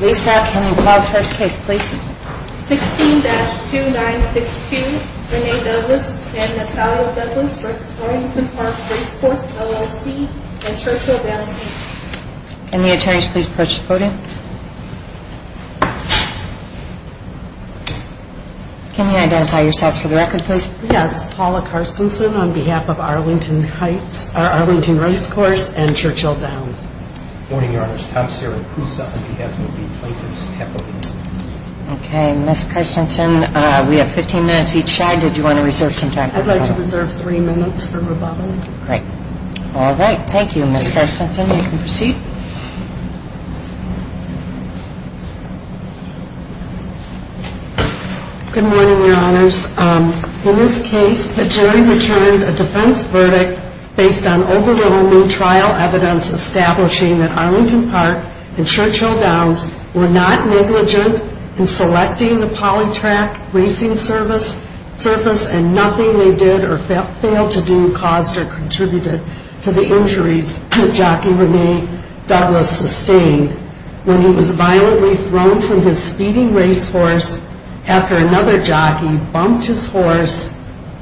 Lisa, can you call the first case please? 16-2962, Renee Douglas and Natalia Douglas v. Arlington Park Racecourse, LLC and Churchill Downs Can the attorneys please approach the podium? Can you identify yourselves for the record please? Yes, Paula Carstensen on behalf of Arlington Racecourse and Churchill Downs Good morning, your honors. Tom Saracusa on behalf of the plaintiff's capital Okay, Ms. Carstensen, we have 15 minutes each. Chad, did you want to reserve some time for rebuttal? I'd like to reserve three minutes for rebuttal. Great. All right. Thank you, Ms. Carstensen. You can proceed. Good morning, your honors. In this case, the jury returned a defense verdict based on overwhelming trial evidence establishing that Arlington Park and Churchill Downs were not negligent in selecting the polytrack racing surface and nothing they did or failed to do caused or contributed to the injuries that jockey Renee Douglas sustained. When he was violently thrown from his speeding racehorse after another jockey bumped his horse,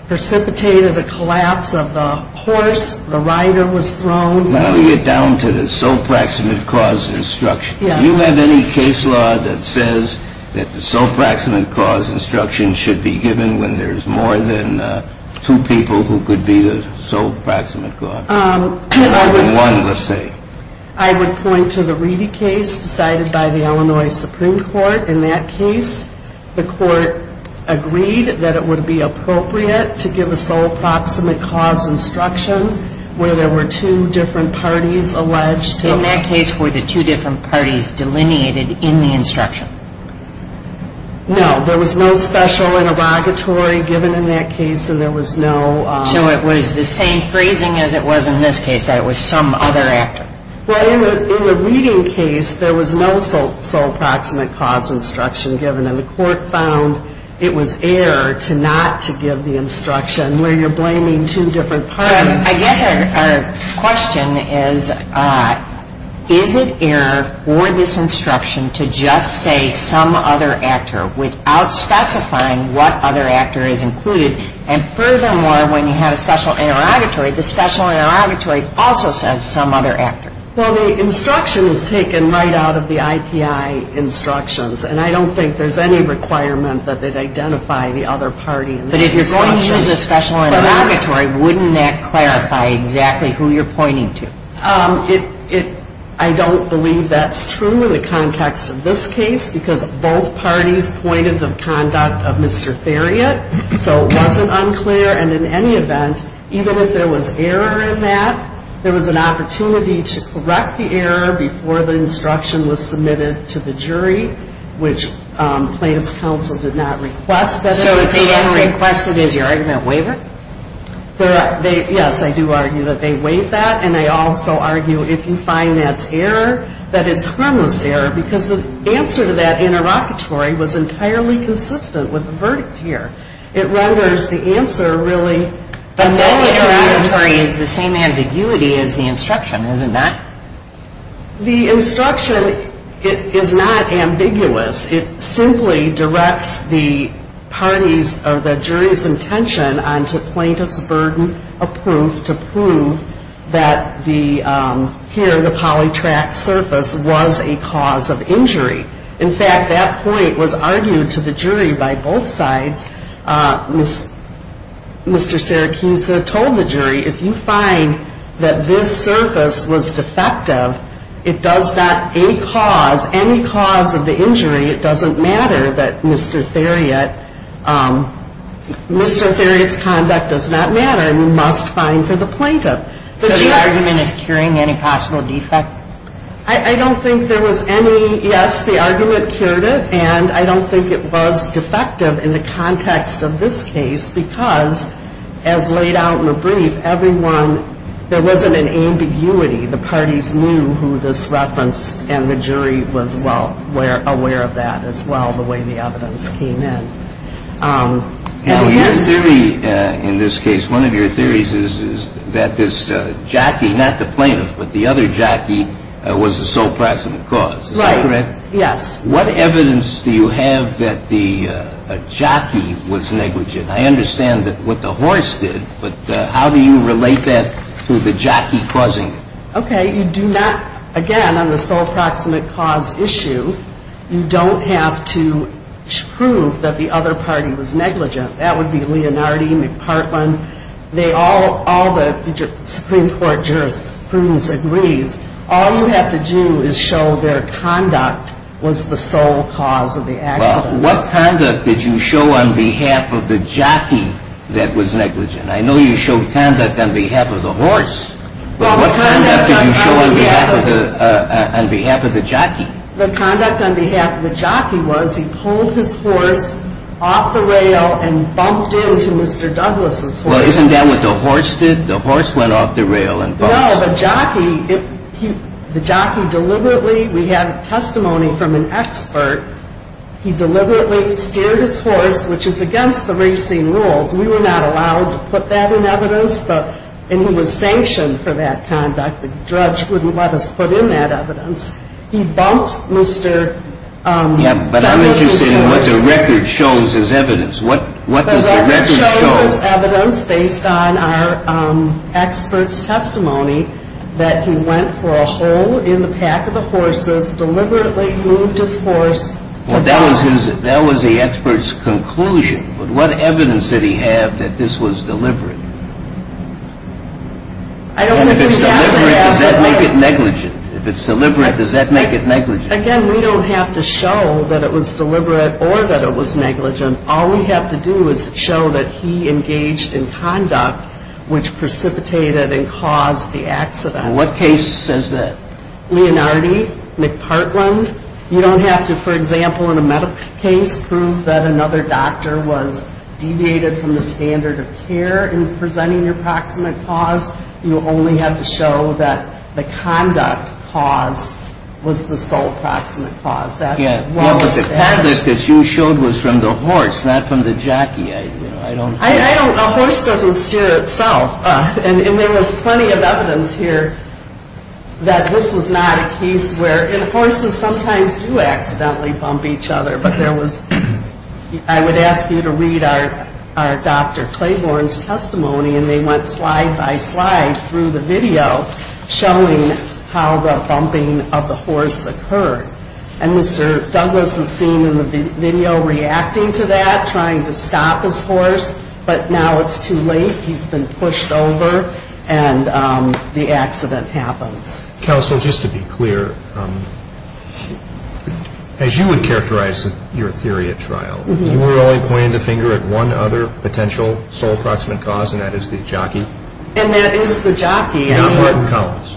precipitated a collapse of the horse, the rider was thrown. Now we get down to the sole proximate cause instruction. Do you have any case law that says that the sole proximate cause instruction should be given when there's more than two people who could be the sole proximate cause? I would point to the Reedy case decided by the Illinois Supreme Court. In that case, the court agreed that it would be appropriate to give a sole proximate cause instruction where there were two different parties alleged to have. In that case, were the two different parties delineated in the instruction? No. There was no special interrogatory given in that case, and there was no... So it was the same phrasing as it was in this case, that it was some other actor. Well, in the Reedy case, there was no sole proximate cause instruction given, and the court found it was error to not to give the instruction where you're blaming two different parties. I guess our question is, is it error for this instruction to just say some other actor without specifying what other actor is included? And furthermore, when you have a special interrogatory, the special interrogatory also says some other actor. Well, the instruction is taken right out of the IPI instructions, and I don't think there's any requirement that they'd identify the other party in the instruction. If the instruction is a special interrogatory, wouldn't that clarify exactly who you're pointing to? I don't believe that's true in the context of this case, because both parties pointed to the conduct of Mr. Theriot. So it wasn't unclear, and in any event, even if there was error in that, there was an opportunity to correct the error before the instruction was submitted to the jury, which plaintiff's counsel did not request. So if they hadn't requested, is your argument waiver? Yes, I do argue that they waive that, and I also argue if you find that's error, that it's harmless error, because the answer to that interrogatory was entirely consistent with the verdict here. It renders the answer really... But that interrogatory is the same ambiguity as the instruction, isn't that? The instruction is not ambiguous. It simply directs the parties or the jury's intention onto plaintiff's burden of proof to prove that here the polytract surface was a cause of injury. In fact, that point was argued to the jury by both sides. Mr. Serakisa told the jury, if you find that this surface was defective, it does not, any cause, any cause of the injury, it doesn't matter that Mr. Theriot... Mr. Theriot's conduct does not matter, and you must find for the plaintiff. So the argument is curing any possible defect? I don't think there was any... because as laid out in the brief, everyone, there wasn't an ambiguity. The parties knew who this referenced, and the jury was well aware of that as well, the way the evidence came in. And your theory in this case, one of your theories is that this jockey, not the plaintiff, but the other jockey, was the sole precedent cause. Right. Is that correct? Yes. What evidence do you have that the jockey was negligent? I understand what the horse did, but how do you relate that to the jockey causing it? Okay, you do not, again, on the sole precedent cause issue, you don't have to prove that the other party was negligent. That would be Leonardi, McPartland, all the Supreme Court jurisprudence agrees. All you have to do is show their conduct was the sole cause of the accident. Well, what conduct did you show on behalf of the jockey that was negligent? I know you showed conduct on behalf of the horse, but what conduct did you show on behalf of the jockey? The conduct on behalf of the jockey was he pulled his horse off the rail and bumped into Mr. Douglas' horse. Well, isn't that what the horse did? The horse went off the rail and bumped... No, the jockey deliberately, we have testimony from an expert, he deliberately steered his horse, which is against the racing rules. We were not allowed to put that in evidence, and he was sanctioned for that conduct. The judge wouldn't let us put in that evidence. He bumped Mr. Douglas' horse. But I'm interested in what the record shows as evidence. What does the record show? This is evidence based on our expert's testimony that he went for a hole in the pack of the horses, deliberately moved his horse. Well, that was the expert's conclusion, but what evidence did he have that this was deliberate? And if it's deliberate, does that make it negligent? If it's deliberate, does that make it negligent? Again, we don't have to show that it was deliberate or that it was negligent. All we have to do is show that he engaged in conduct which precipitated and caused the accident. What case is it? Leonardi, McPartland. You don't have to, for example, in a medical case, prove that another doctor was deviated from the standard of care in presenting your proximate cause. You only have to show that the conduct caused was the sole proximate cause. Yeah, but the conduct that you showed was from the horse, not from the jockey. A horse doesn't steer itself. And there was plenty of evidence here that this was not a case where, and horses sometimes do accidentally bump each other, but I would ask you to read our Dr. Claiborne's testimony, and they went slide by slide through the video showing how the bumping of the horse occurred. And Mr. Douglas is seen in the video reacting to that, trying to stop his horse, but now it's too late, he's been pushed over, and the accident happens. Counsel, just to be clear, as you would characterize your theory at trial, you were only pointing the finger at one other potential sole proximate cause, and that is the jockey? And that is the jockey. Not Martin Collins.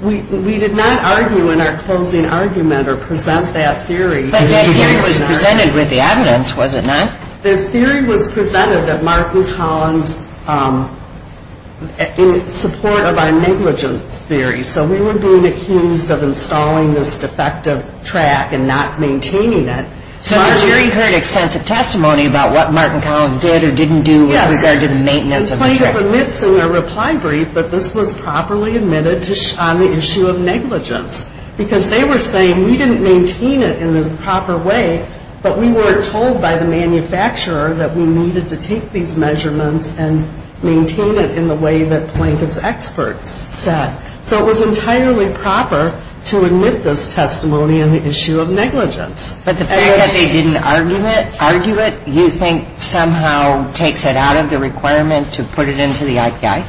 We did not argue in our closing argument or present that theory. But that theory was presented with the evidence, was it not? The theory was presented that Martin Collins, in support of our negligence theory, so we were being accused of installing this defective track and not maintaining it. So you heard extensive testimony about what Martin Collins did or didn't do with regard to the maintenance of the track? Plank admits in their reply brief that this was properly admitted on the issue of negligence, because they were saying we didn't maintain it in the proper way, but we were told by the manufacturer that we needed to take these measurements and maintain it in the way that Plank's experts said. So it was entirely proper to admit this testimony on the issue of negligence. But the fact that they didn't argue it, do you think somehow takes it out of the requirement to put it into the ICI?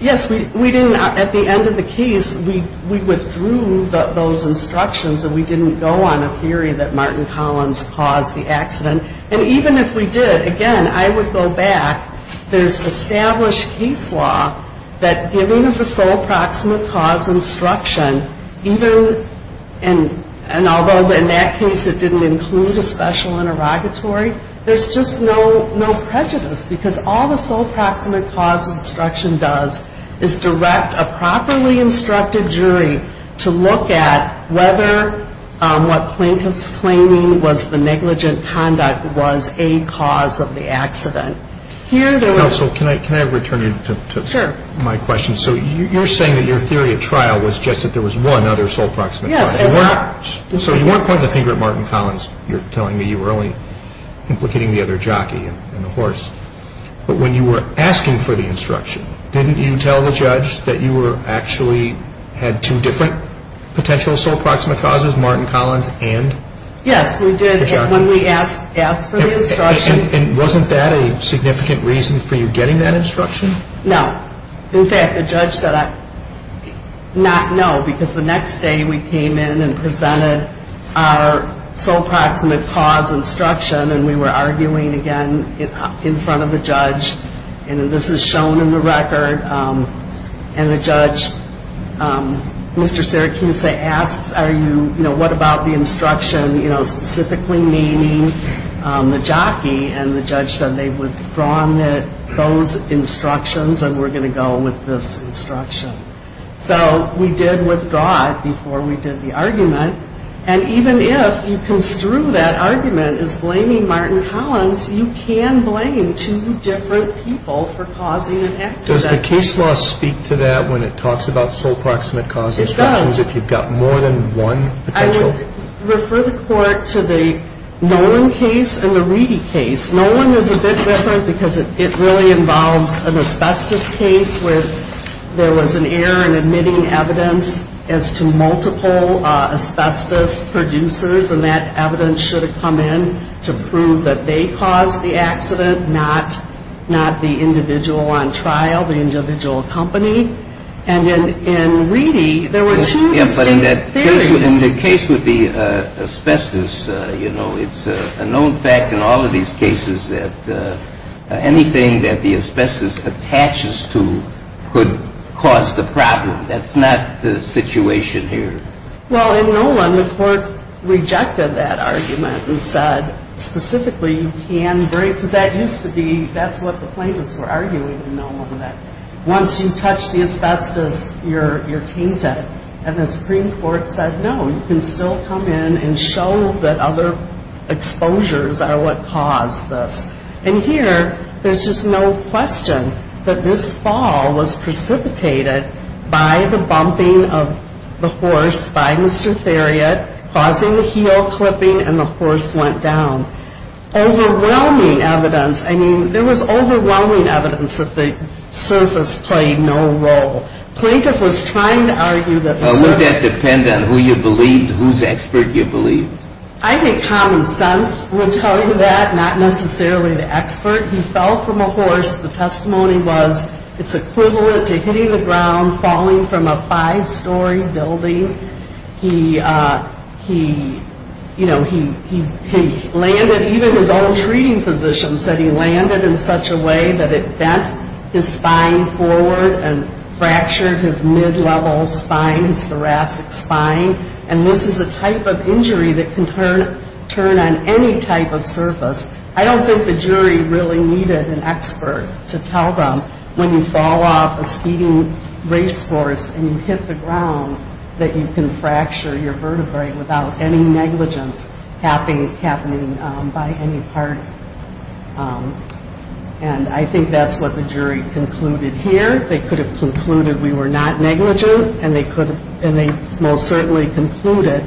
Yes, we didn't. At the end of the case, we withdrew those instructions and we didn't go on a theory that Martin Collins caused the accident. And even if we did, again, I would go back. There's established case law that given the sole proximate cause instruction, and although in that case it didn't include a special interrogatory, there's just no prejudice, because all the sole proximate cause instruction does is direct a properly instructed jury to look at whether what Plank was claiming was the negligent conduct was a cause of the accident. Counsel, can I return you to my question? Sure. So you're saying that your theory of trial was just that there was one other sole proximate cause. Yes. So you weren't pointing the finger at Martin Collins. You're telling me you were only implicating the other jockey and the horse. But when you were asking for the instruction, didn't you tell the judge that you actually had two different potential sole proximate causes, Martin Collins and the jockey? Yes, we did. When we asked for the instruction. And wasn't that a significant reason for you getting that instruction? No. In fact, the judge said not no, because the next day we came in and presented our sole proximate cause instruction, and we were arguing again in front of the judge. And this is shown in the record. And the judge, Mr. Syracuse, asks, what about the instruction specifically naming the jockey? And the judge said they've withdrawn those instructions, and we're going to go with this instruction. So we did withdraw it before we did the argument. And even if you construe that argument as blaming Martin Collins, you can blame two different people for causing an accident. Does the case law speak to that when it talks about sole proximate cause instructions? It does. If you've got more than one potential? I would refer the court to the Nolan case and the Reedy case. Nolan was a bit different because it really involves an asbestos case where there was an error in admitting evidence as to multiple asbestos producers, and that evidence should have come in to prove that they caused the accident, not the individual on trial, the individual accompanied. And in Reedy, there were two distinct theories. Yeah, but in the case with the asbestos, you know, it's a known fact in all of these cases that anything that the asbestos attaches to could cause the problem. That's not the situation here. Well, in Nolan, the court rejected that argument and said specifically you can't break, because that used to be, that's what the plaintiffs were arguing in Nolan, that once you touch the asbestos, you're tainted. And the Supreme Court said, no, you can still come in and show that other exposures are what caused this. And here, there's just no question that this fall was precipitated by the bumping of the horse by Mr. Theriot, causing the heel clipping, and the horse went down. Overwhelming evidence. I mean, there was overwhelming evidence that the surface played no role. Plaintiff was trying to argue that the surface... Well, would that depend on who you believed, whose expert you believed? I think common sense would tell you that, not necessarily the expert. He fell from a horse. The testimony was it's equivalent to hitting the ground, falling from a five-story building. He, you know, he landed, even his own treating physician said he landed in such a way that it bent his spine forward and fractured his mid-level spine, his thoracic spine. And this is a type of injury that can turn on any type of surface. I don't think the jury really needed an expert to tell them when you fall off a speeding racehorse and you hit the ground, that you can fracture your vertebrae without any negligence happening by any part. And I think that's what the jury concluded here. They could have concluded we were not negligent, and they most certainly concluded,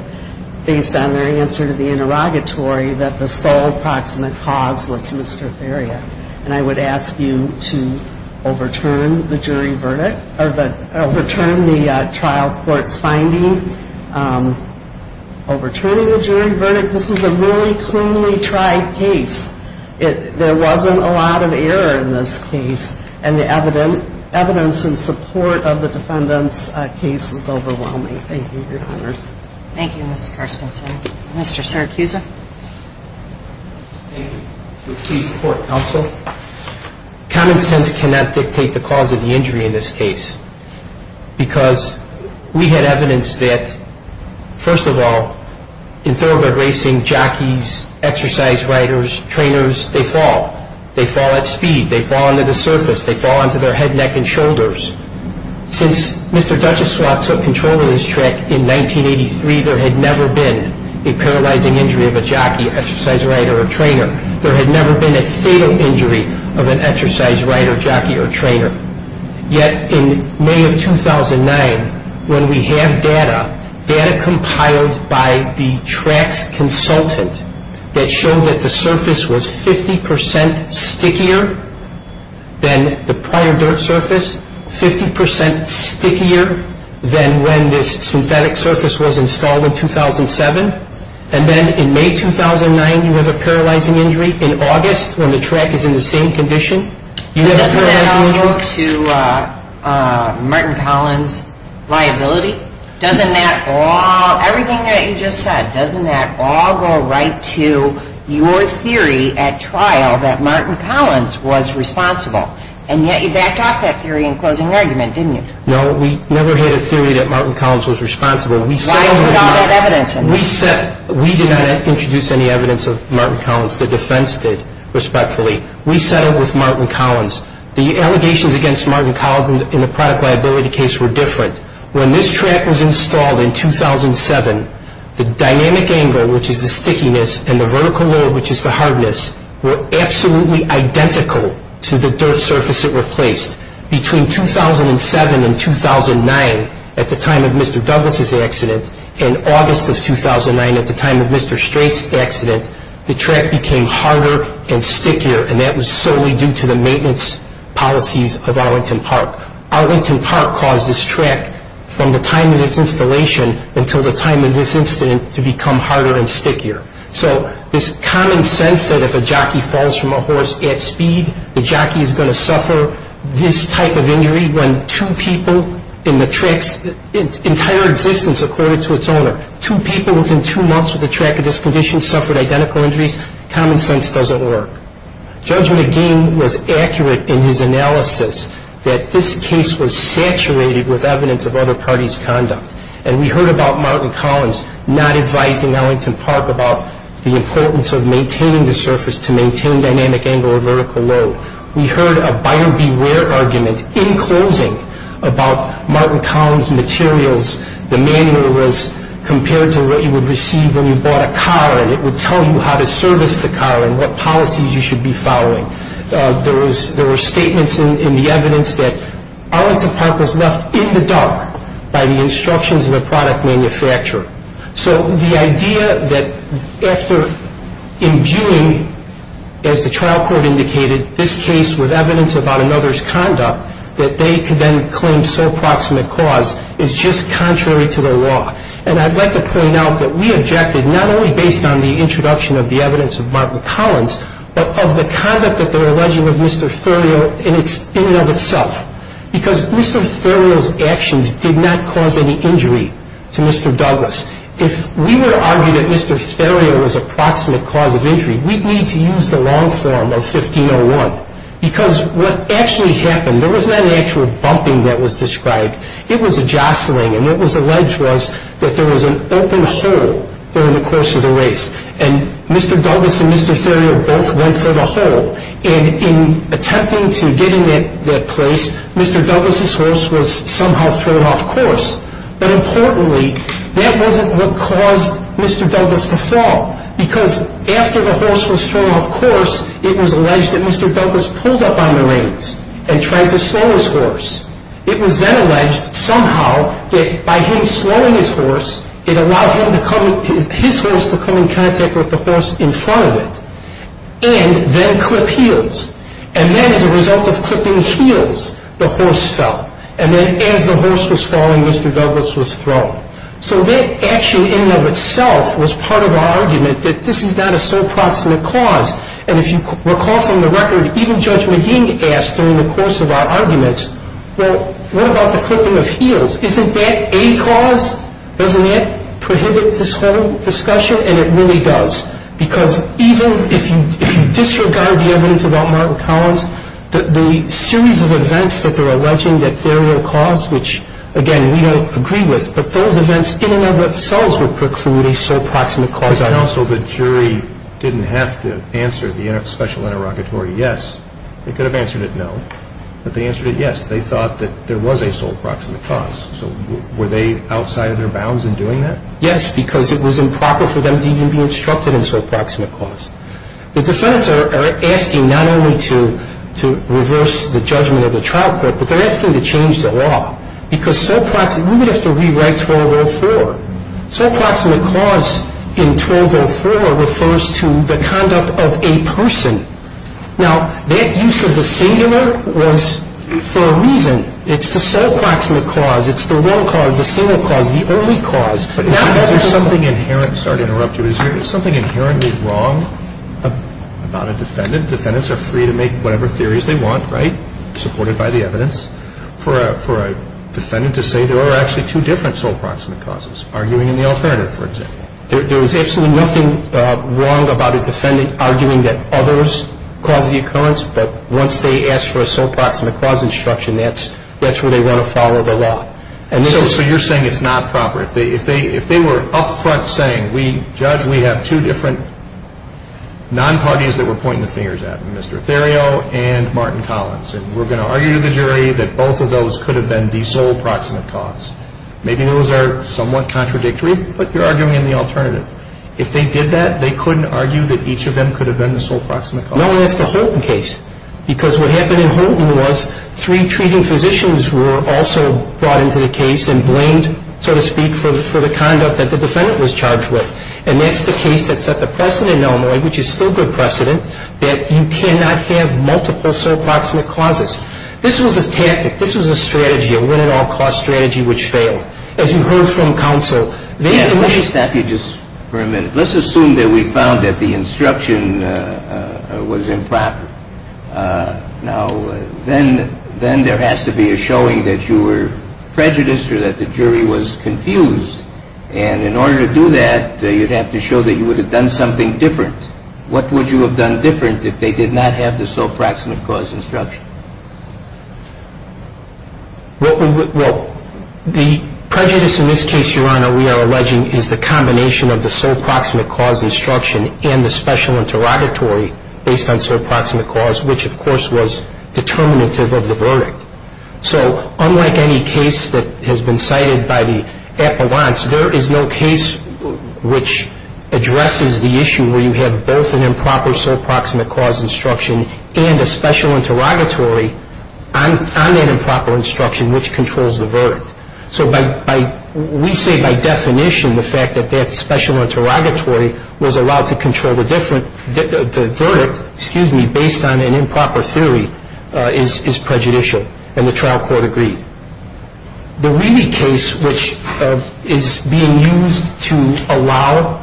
based on their answer to the interrogatory, that the sole proximate cause was Mr. Theria. And I would ask you to overturn the jury verdict, overturn the trial court's finding, overturning the jury verdict. This is a really cleanly tried case. There wasn't a lot of error in this case, and the evidence in support of the defendant's case is overwhelming. Thank you. Your Honors. Thank you, Ms. Carstensen. Mr. Syracuse. Thank you. Please support counsel. Common sense cannot dictate the cause of the injury in this case, because we had evidence that, first of all, in thoroughbred racing, jockeys, exercise riders, trainers, they fall. They fall at speed. They fall onto the surface. They fall onto their head, neck, and shoulders. Since Mr. Duchesois took control of this track in 1983, there had never been a paralyzing injury of a jockey, exercise rider, or trainer. There had never been a fatal injury of an exercise rider, jockey, or trainer. Yet in May of 2009, when we have data, data compiled by the track's consultant that showed that the surface was 50% stickier than the prior dirt surface, 50% stickier than when this synthetic surface was installed in 2007. And then in May 2009, you have a paralyzing injury. In August, when the track is in the same condition, you have a paralyzing injury. Does that go to Martin Collins' liability? Doesn't that all, everything that you just said, doesn't that all go right to your theory at trial that Martin Collins was responsible? And yet you backed off that theory in closing argument, didn't you? No, we never had a theory that Martin Collins was responsible. Why put all that evidence in there? We did not introduce any evidence of Martin Collins. The defense did, respectfully. We settled with Martin Collins. The allegations against Martin Collins in the product liability case were different. When this track was installed in 2007, the dynamic angle, which is the stickiness, and the vertical load, which is the hardness, were absolutely identical to the dirt surface it replaced. Between 2007 and 2009, at the time of Mr. Douglas' accident, and August of 2009, at the time of Mr. Strait's accident, the track became harder and stickier, and that was solely due to the maintenance policies of Arlington Park. Arlington Park caused this track, from the time of this installation until the time of this incident, to become harder and stickier. So this common sense that if a jockey falls from a horse at speed, when two people in the track's entire existence, according to its owner, two people within two months of the track of this condition suffered identical injuries, common sense doesn't work. Judge McGee was accurate in his analysis that this case was saturated with evidence of other parties' conduct, and we heard about Martin Collins not advising Arlington Park about the importance of maintaining the surface to maintain dynamic angle or vertical load. We heard a buyer beware argument in closing about Martin Collins' materials. The manual was compared to what you would receive when you bought a car, and it would tell you how to service the car and what policies you should be following. There were statements in the evidence that Arlington Park was left in the dark by the instructions of the product manufacturer. So the idea that after imbuing, as the trial court indicated, this case with evidence about another's conduct, that they could then claim sole proximate cause is just contrary to the law. And I'd like to point out that we objected not only based on the introduction of the evidence of Martin Collins, but of the conduct that they're alleging of Mr. Thurio in and of itself, because Mr. Thurio's actions did not cause any injury to Mr. Douglas. If we were to argue that Mr. Thurio was a proximate cause of injury, we'd need to use the long form of 1501, because what actually happened, there was not an actual bumping that was described. It was a jostling, and what was alleged was that there was an open hole during the course of the race, and Mr. Douglas and Mr. Thurio both went for the hole, and in attempting to get in that place, Mr. Douglas's horse was somehow thrown off course. But importantly, that wasn't what caused Mr. Douglas to fall, because after the horse was thrown off course, it was alleged that Mr. Douglas pulled up on the reins and tried to slow his horse. It was then alleged somehow that by him slowing his horse, it allowed his horse to come in contact with the horse in front of it, and then clip heels. And then as a result of clipping heels, the horse fell. And then as the horse was falling, Mr. Douglas was thrown. So that action in and of itself was part of our argument that this is not a sole proximate cause. And if you recall from the record, even Judge McGee asked during the course of our argument, well, what about the clipping of heels? Isn't that a cause? Doesn't that prohibit this whole discussion? And it really does, because even if you disregard the evidence about Martin Collins, the series of events that they're alleging that there were a cause, which, again, we don't agree with, but those events in and of themselves would preclude a sole proximate cause. But counsel, the jury didn't have to answer the special interrogatory yes. They could have answered it no, but they answered it yes. They thought that there was a sole proximate cause. So were they outside of their bounds in doing that? Yes, because it was improper for them to even be instructed in sole proximate cause. The defendants are asking not only to reverse the judgment of the trial court, but they're asking to change the law, because sole proximate, we're going to have to rewrite 1204. Sole proximate cause in 1204 refers to the conduct of a person. Now, that use of the singular was for a reason. It's the sole proximate cause. It's the one cause, the single cause, the only cause. But if there's something inherent, sorry to interrupt you, is there something inherently wrong about a defendant? Defendants are free to make whatever theories they want, right, supported by the evidence, for a defendant to say there are actually two different sole proximate causes, arguing in the alternative, for example. There is absolutely nothing wrong about a defendant arguing that others caused the occurrence, but once they ask for a sole proximate cause instruction, that's where they want to follow the law. So you're saying it's not proper. If they were up front saying, Judge, we have two different non-parties that we're pointing the fingers at, Mr. Theriault and Martin Collins, and we're going to argue to the jury that both of those could have been the sole proximate cause, maybe those are somewhat contradictory, but you're arguing in the alternative. If they did that, they couldn't argue that each of them could have been the sole proximate cause. No one asked the Houghton case, because what happened in Houghton was three treating physicians were also brought into the case and blamed, so to speak, for the conduct that the defendant was charged with. And that's the case that set the precedent in Illinois, which is still good precedent, that you cannot have multiple sole proximate causes. This was a tactic. This was a strategy, a win-at-all-costs strategy, which failed. As you heard from counsel, they had to make a decision. Let me stop you just for a minute. Let's assume that we found that the instruction was improper. Now, then there has to be a showing that you were prejudiced or that the jury was confused. And in order to do that, you'd have to show that you would have done something different. What would you have done different if they did not have the sole proximate cause instruction? Well, the prejudice in this case, Your Honor, we are alleging, is the combination of the sole proximate cause instruction and the special interrogatory based on sole proximate cause, which, of course, was determinative of the verdict. So unlike any case that has been cited by the appellants, there is no case which addresses the issue where you have both an improper sole proximate cause instruction and a special interrogatory on that improper instruction, which controls the verdict. So we say by definition the fact that that special interrogatory was allowed to control the verdict, excuse me, based on an improper theory is prejudicial. And the trial court agreed. The Wheely case, which is being used to allow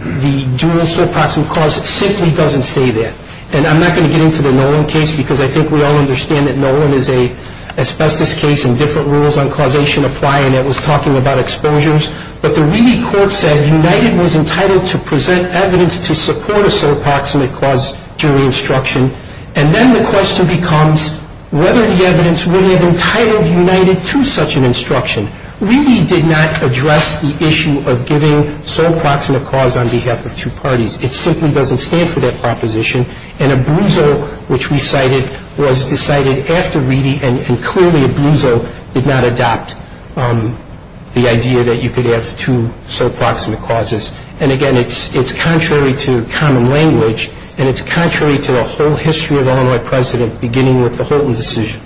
the dual sole proximate cause, simply doesn't say that. And I'm not going to get into the Nolan case because I think we all understand that Nolan is an asbestos case and different rules on causation apply, and it was talking about exposures. But the Wheely court said United was entitled to present evidence to support a sole proximate cause during instruction. And then the question becomes whether the evidence would have entitled United to such an instruction. Wheely did not address the issue of giving sole proximate cause on behalf of two parties. It simply doesn't stand for that proposition. And Abruzzo, which we cited, was decided after Wheely, and clearly Abruzzo did not adopt the idea that you could have two sole proximate causes. And again, it's contrary to common language and it's contrary to the whole history of Illinois precedent beginning with the Holton decision.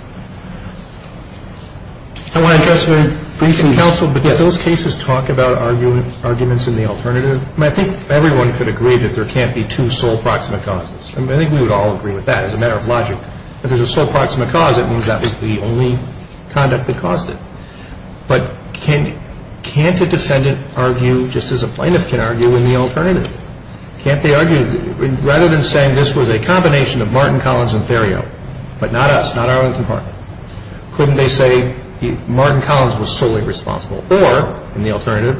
I want to address a briefing counsel, but do those cases talk about arguments in the alternative? I think everyone could agree that there can't be two sole proximate causes. I think we would all agree with that as a matter of logic. If there's a sole proximate cause, it means that was the only conduct that caused it. But can't a defendant argue just as a plaintiff can argue in the alternative? Can't they argue? Rather than saying this was a combination of Martin, Collins, and Theriot, but not us, not our own compartment, couldn't they say Martin, Collins was solely responsible? Or, in the alternative,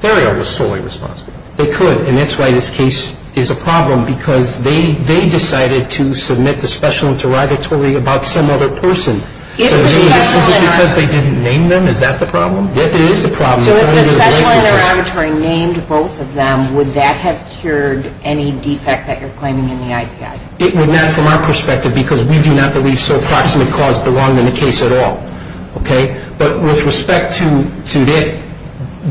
Theriot was solely responsible? They could, and that's why this case is a problem, because they decided to submit the Special Interrogatory about some other person. Is it because they didn't name them? Is that the problem? Yes, it is the problem. So if the Special Interrogatory named both of them, would that have cured any defect that you're claiming in the IPI? It would not, from our perspective, because we do not believe sole proximate cause belonged in the case at all. Okay? But with respect to that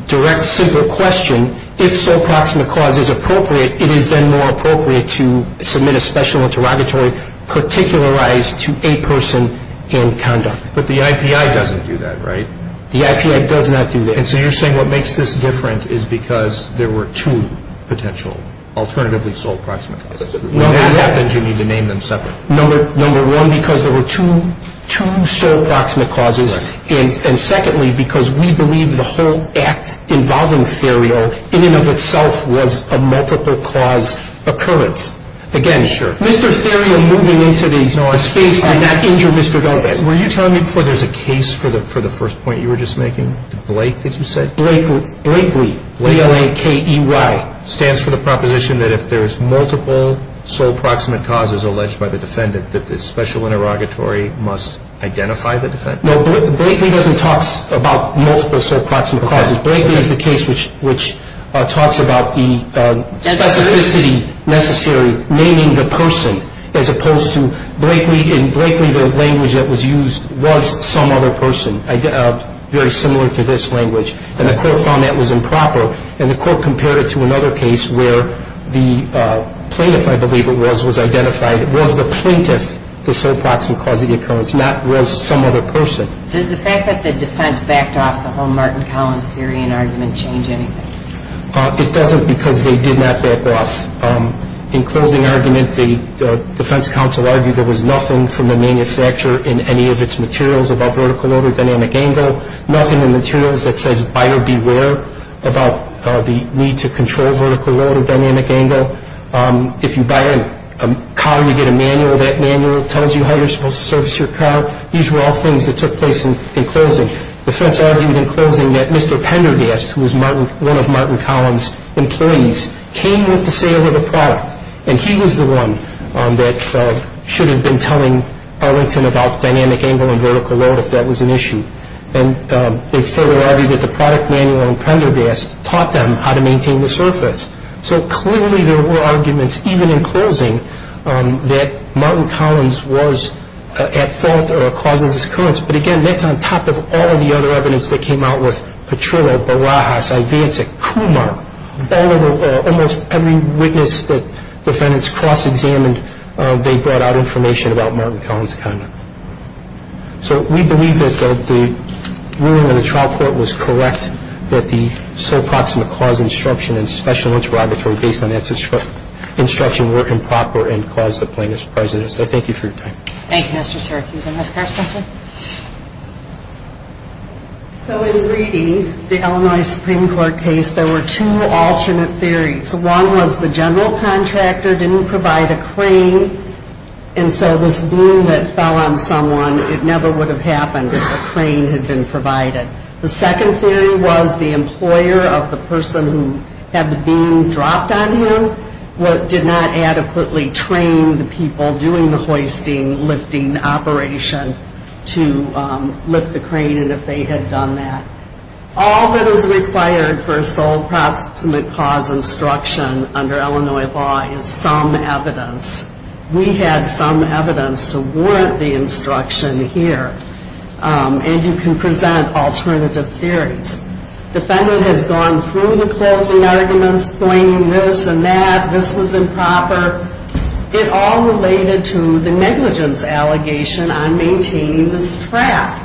direct single question, if sole proximate cause is appropriate, it is then more appropriate to submit a Special Interrogatory particularized to a person in conduct. But the IPI doesn't do that, right? The IPI does not do that. And so you're saying what makes this different is because there were two potential alternatively sole proximate causes. If they're not, then you need to name them separate. Number one, because there were two sole proximate causes, and secondly, because we believe the whole act involving Theriot in and of itself was a multiple cause occurrence. Again, Mr. Theriot moving into the space did not injure Mr. Douglas. Were you telling me before there's a case for the first point you were just making? Blake, did you say? Blakely. Blakely. B-l-a-k-e-y. It stands for the proposition that if there's multiple sole proximate causes alleged by the defendant, that the Special Interrogatory must identify the defendant? No. Blakely doesn't talk about multiple sole proximate causes. Blakely is the case which talks about the specificity necessary naming the person as opposed to Blakely. In Blakely, the language that was used was some other person, very similar to this language. And the Court found that was improper. And the Court compared it to another case where the plaintiff, I believe it was, was identified. It was the plaintiff, the sole proximate cause of the occurrence, not was some other person. Does the fact that the defense backed off the whole Martin Collins theory and argument change anything? It doesn't because they did not back off. In closing argument, the defense counsel argued there was nothing from the manufacturer in any of its materials about vertical over dynamic angle, nothing in the materials that says buyer beware about the need to control vertical load or dynamic angle. If you buy a car, you get a manual. That manual tells you how you're supposed to service your car. These were all things that took place in closing. The defense argued in closing that Mr. Pendergast, who was one of Martin Collins' employees, came with the sale of the product, and he was the one that should have been telling Arlington about dynamic angle and vertical load if that was an issue. And they further argued that the product manual on Pendergast taught them how to maintain the surface. So clearly there were arguments, even in closing, that Martin Collins was at fault or a cause of this occurrence. But again, that's on top of all of the other evidence that came out with Petrillo, Barajas, Ivancic, Kumar, almost every witness that defendants cross-examined, they brought out information about Martin Collins' conduct. So we believe that the ruling of the trial court was correct, that the sole proximate cause of instruction and special interrogatory based on that instruction were improper and caused the plaintiff's presence. I thank you for your time. Thank you, Mr. Syracuse. And Ms. Carstensen? So in Greedy, the Illinois Supreme Court case, there were two alternate theories. One was the general contractor didn't provide a crane, and so this beam that fell on someone, it never would have happened if a crane had been provided. The second theory was the employer of the person who had the beam dropped on him did not adequately train the people doing the hoisting, lifting operation to lift the crane and if they had done that. All that is required for a sole proximate cause instruction under Illinois law is some evidence. We had some evidence to warrant the instruction here. And you can present alternative theories. Defendant has gone through the closing arguments, claiming this and that, this was improper. It all related to the negligence allegation on maintaining this track.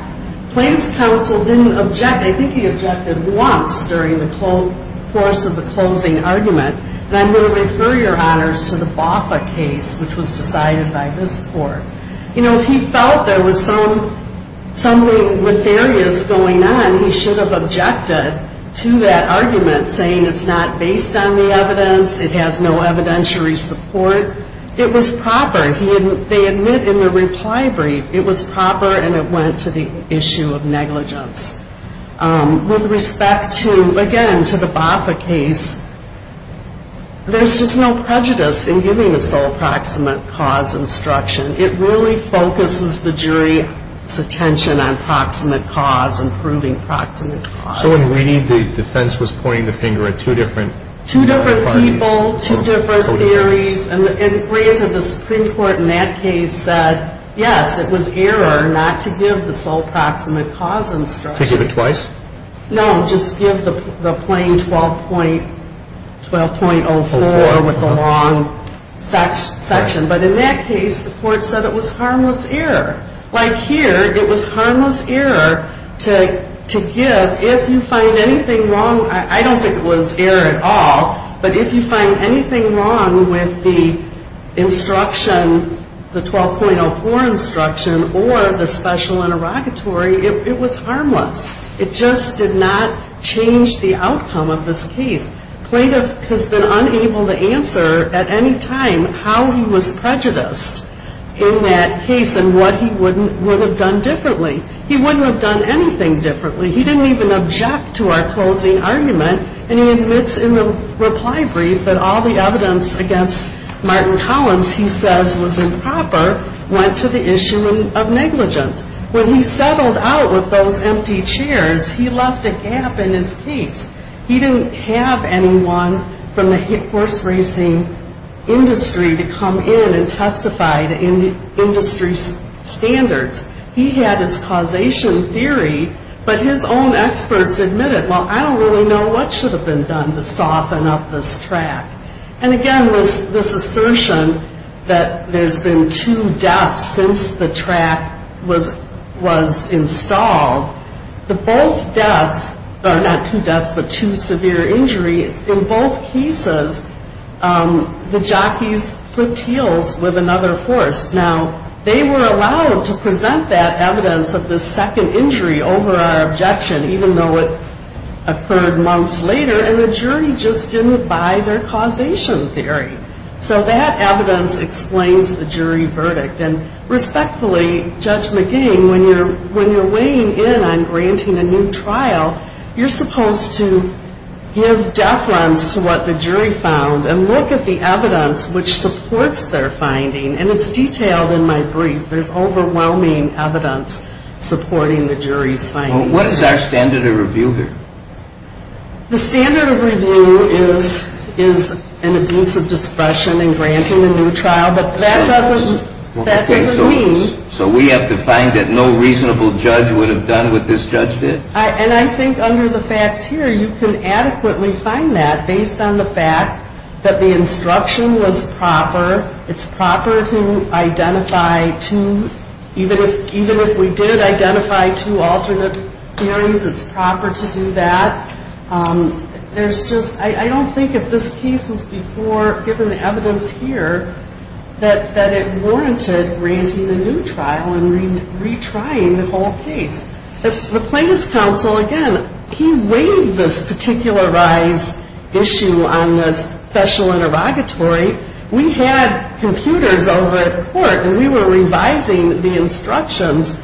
Plaintiff's counsel didn't object. I think he objected once during the course of the closing argument. And I'm going to refer your honors to the Boffa case, which was decided by this court. You know, he felt there was something nefarious going on. He should have objected to that argument, saying it's not based on the evidence. It has no evidentiary support. It was proper. They admit in the reply brief it was proper and it went to the issue of negligence. With respect to, again, to the Boffa case, there's just no prejudice in giving a sole proximate cause instruction. It really focuses the jury's attention on proximate cause and proving proximate cause. So in reading, the defense was pointing the finger at two different parties? Two different people, two different theories. And granted, the Supreme Court in that case said, yes, it was error not to give the sole proximate cause instruction. Could you give it twice? No, just give the plain 12.04 with the long section. But in that case, the court said it was harmless error. Like here, it was harmless error to give if you find anything wrong. I don't think it was error at all. But if you find anything wrong with the instruction, the 12.04 instruction, or the special interrogatory, it was harmless. It just did not change the outcome of this case. Plaintiff has been unable to answer at any time how he was prejudiced in that case and what he would have done differently. He wouldn't have done anything differently. He didn't even object to our closing argument. And he admits in the reply brief that all the evidence against Martin Collins he says was improper went to the issue of negligence. When he settled out with those empty chairs, he left a gap in his case. He didn't have anyone from the horse racing industry to come in and testify to industry standards. He had his causation theory, but his own experts admitted, well, I don't really know what should have been done to soften up this track. And, again, this assertion that there's been two deaths since the track was installed. The both deaths are not two deaths but two severe injuries. In both cases, the jockeys flipped heels with another horse. Now, they were allowed to present that evidence of the second injury over our objection, even though it occurred months later, and the jury just didn't buy their causation theory. So that evidence explains the jury verdict. And, respectfully, Judge McGee, when you're weighing in on granting a new trial, you're supposed to give deference to what the jury found and look at the evidence which supports their finding. And it's detailed in my brief. There's overwhelming evidence supporting the jury's finding. What is our standard of review here? The standard of review is an abuse of discretion in granting a new trial, but that doesn't mean. So we have to find that no reasonable judge would have done what this judge did? And I think under the facts here, you can adequately find that based on the fact that the instruction was proper. It's proper to identify two, even if we did identify two alternate theories, it's proper to do that. There's just, I don't think if this case was before, given the evidence here, that it warranted granting a new trial and retrying the whole case. The plaintiff's counsel, again, he weighed this particular rise issue on this special interrogatory. We had computers over at court, and we were revising the instructions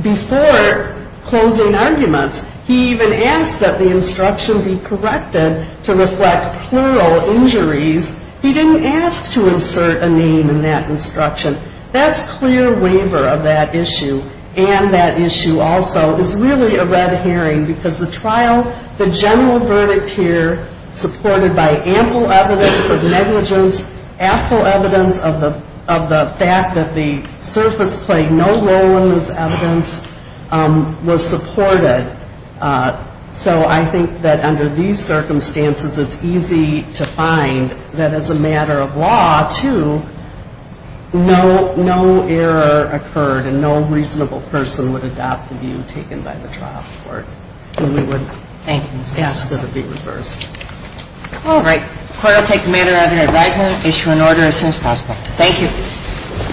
before closing arguments. He even asked that the instruction be corrected to reflect plural injuries. He didn't ask to insert a name in that instruction. That's clear waiver of that issue, and that issue also is really a red herring, because the trial, the general verdict here, supported by ample evidence of negligence, ample evidence of the fact that the surface played no role in this evidence, was supported. So I think that under these circumstances, it's easy to find that as a matter of law, too, No error occurred, and no reasonable person would adopt the view taken by the trial court. We wouldn't. Thank you, Ms. Gasko. It would be reversed. All right. Court will take the matter under advisement, issue an order as soon as possible. Thank you.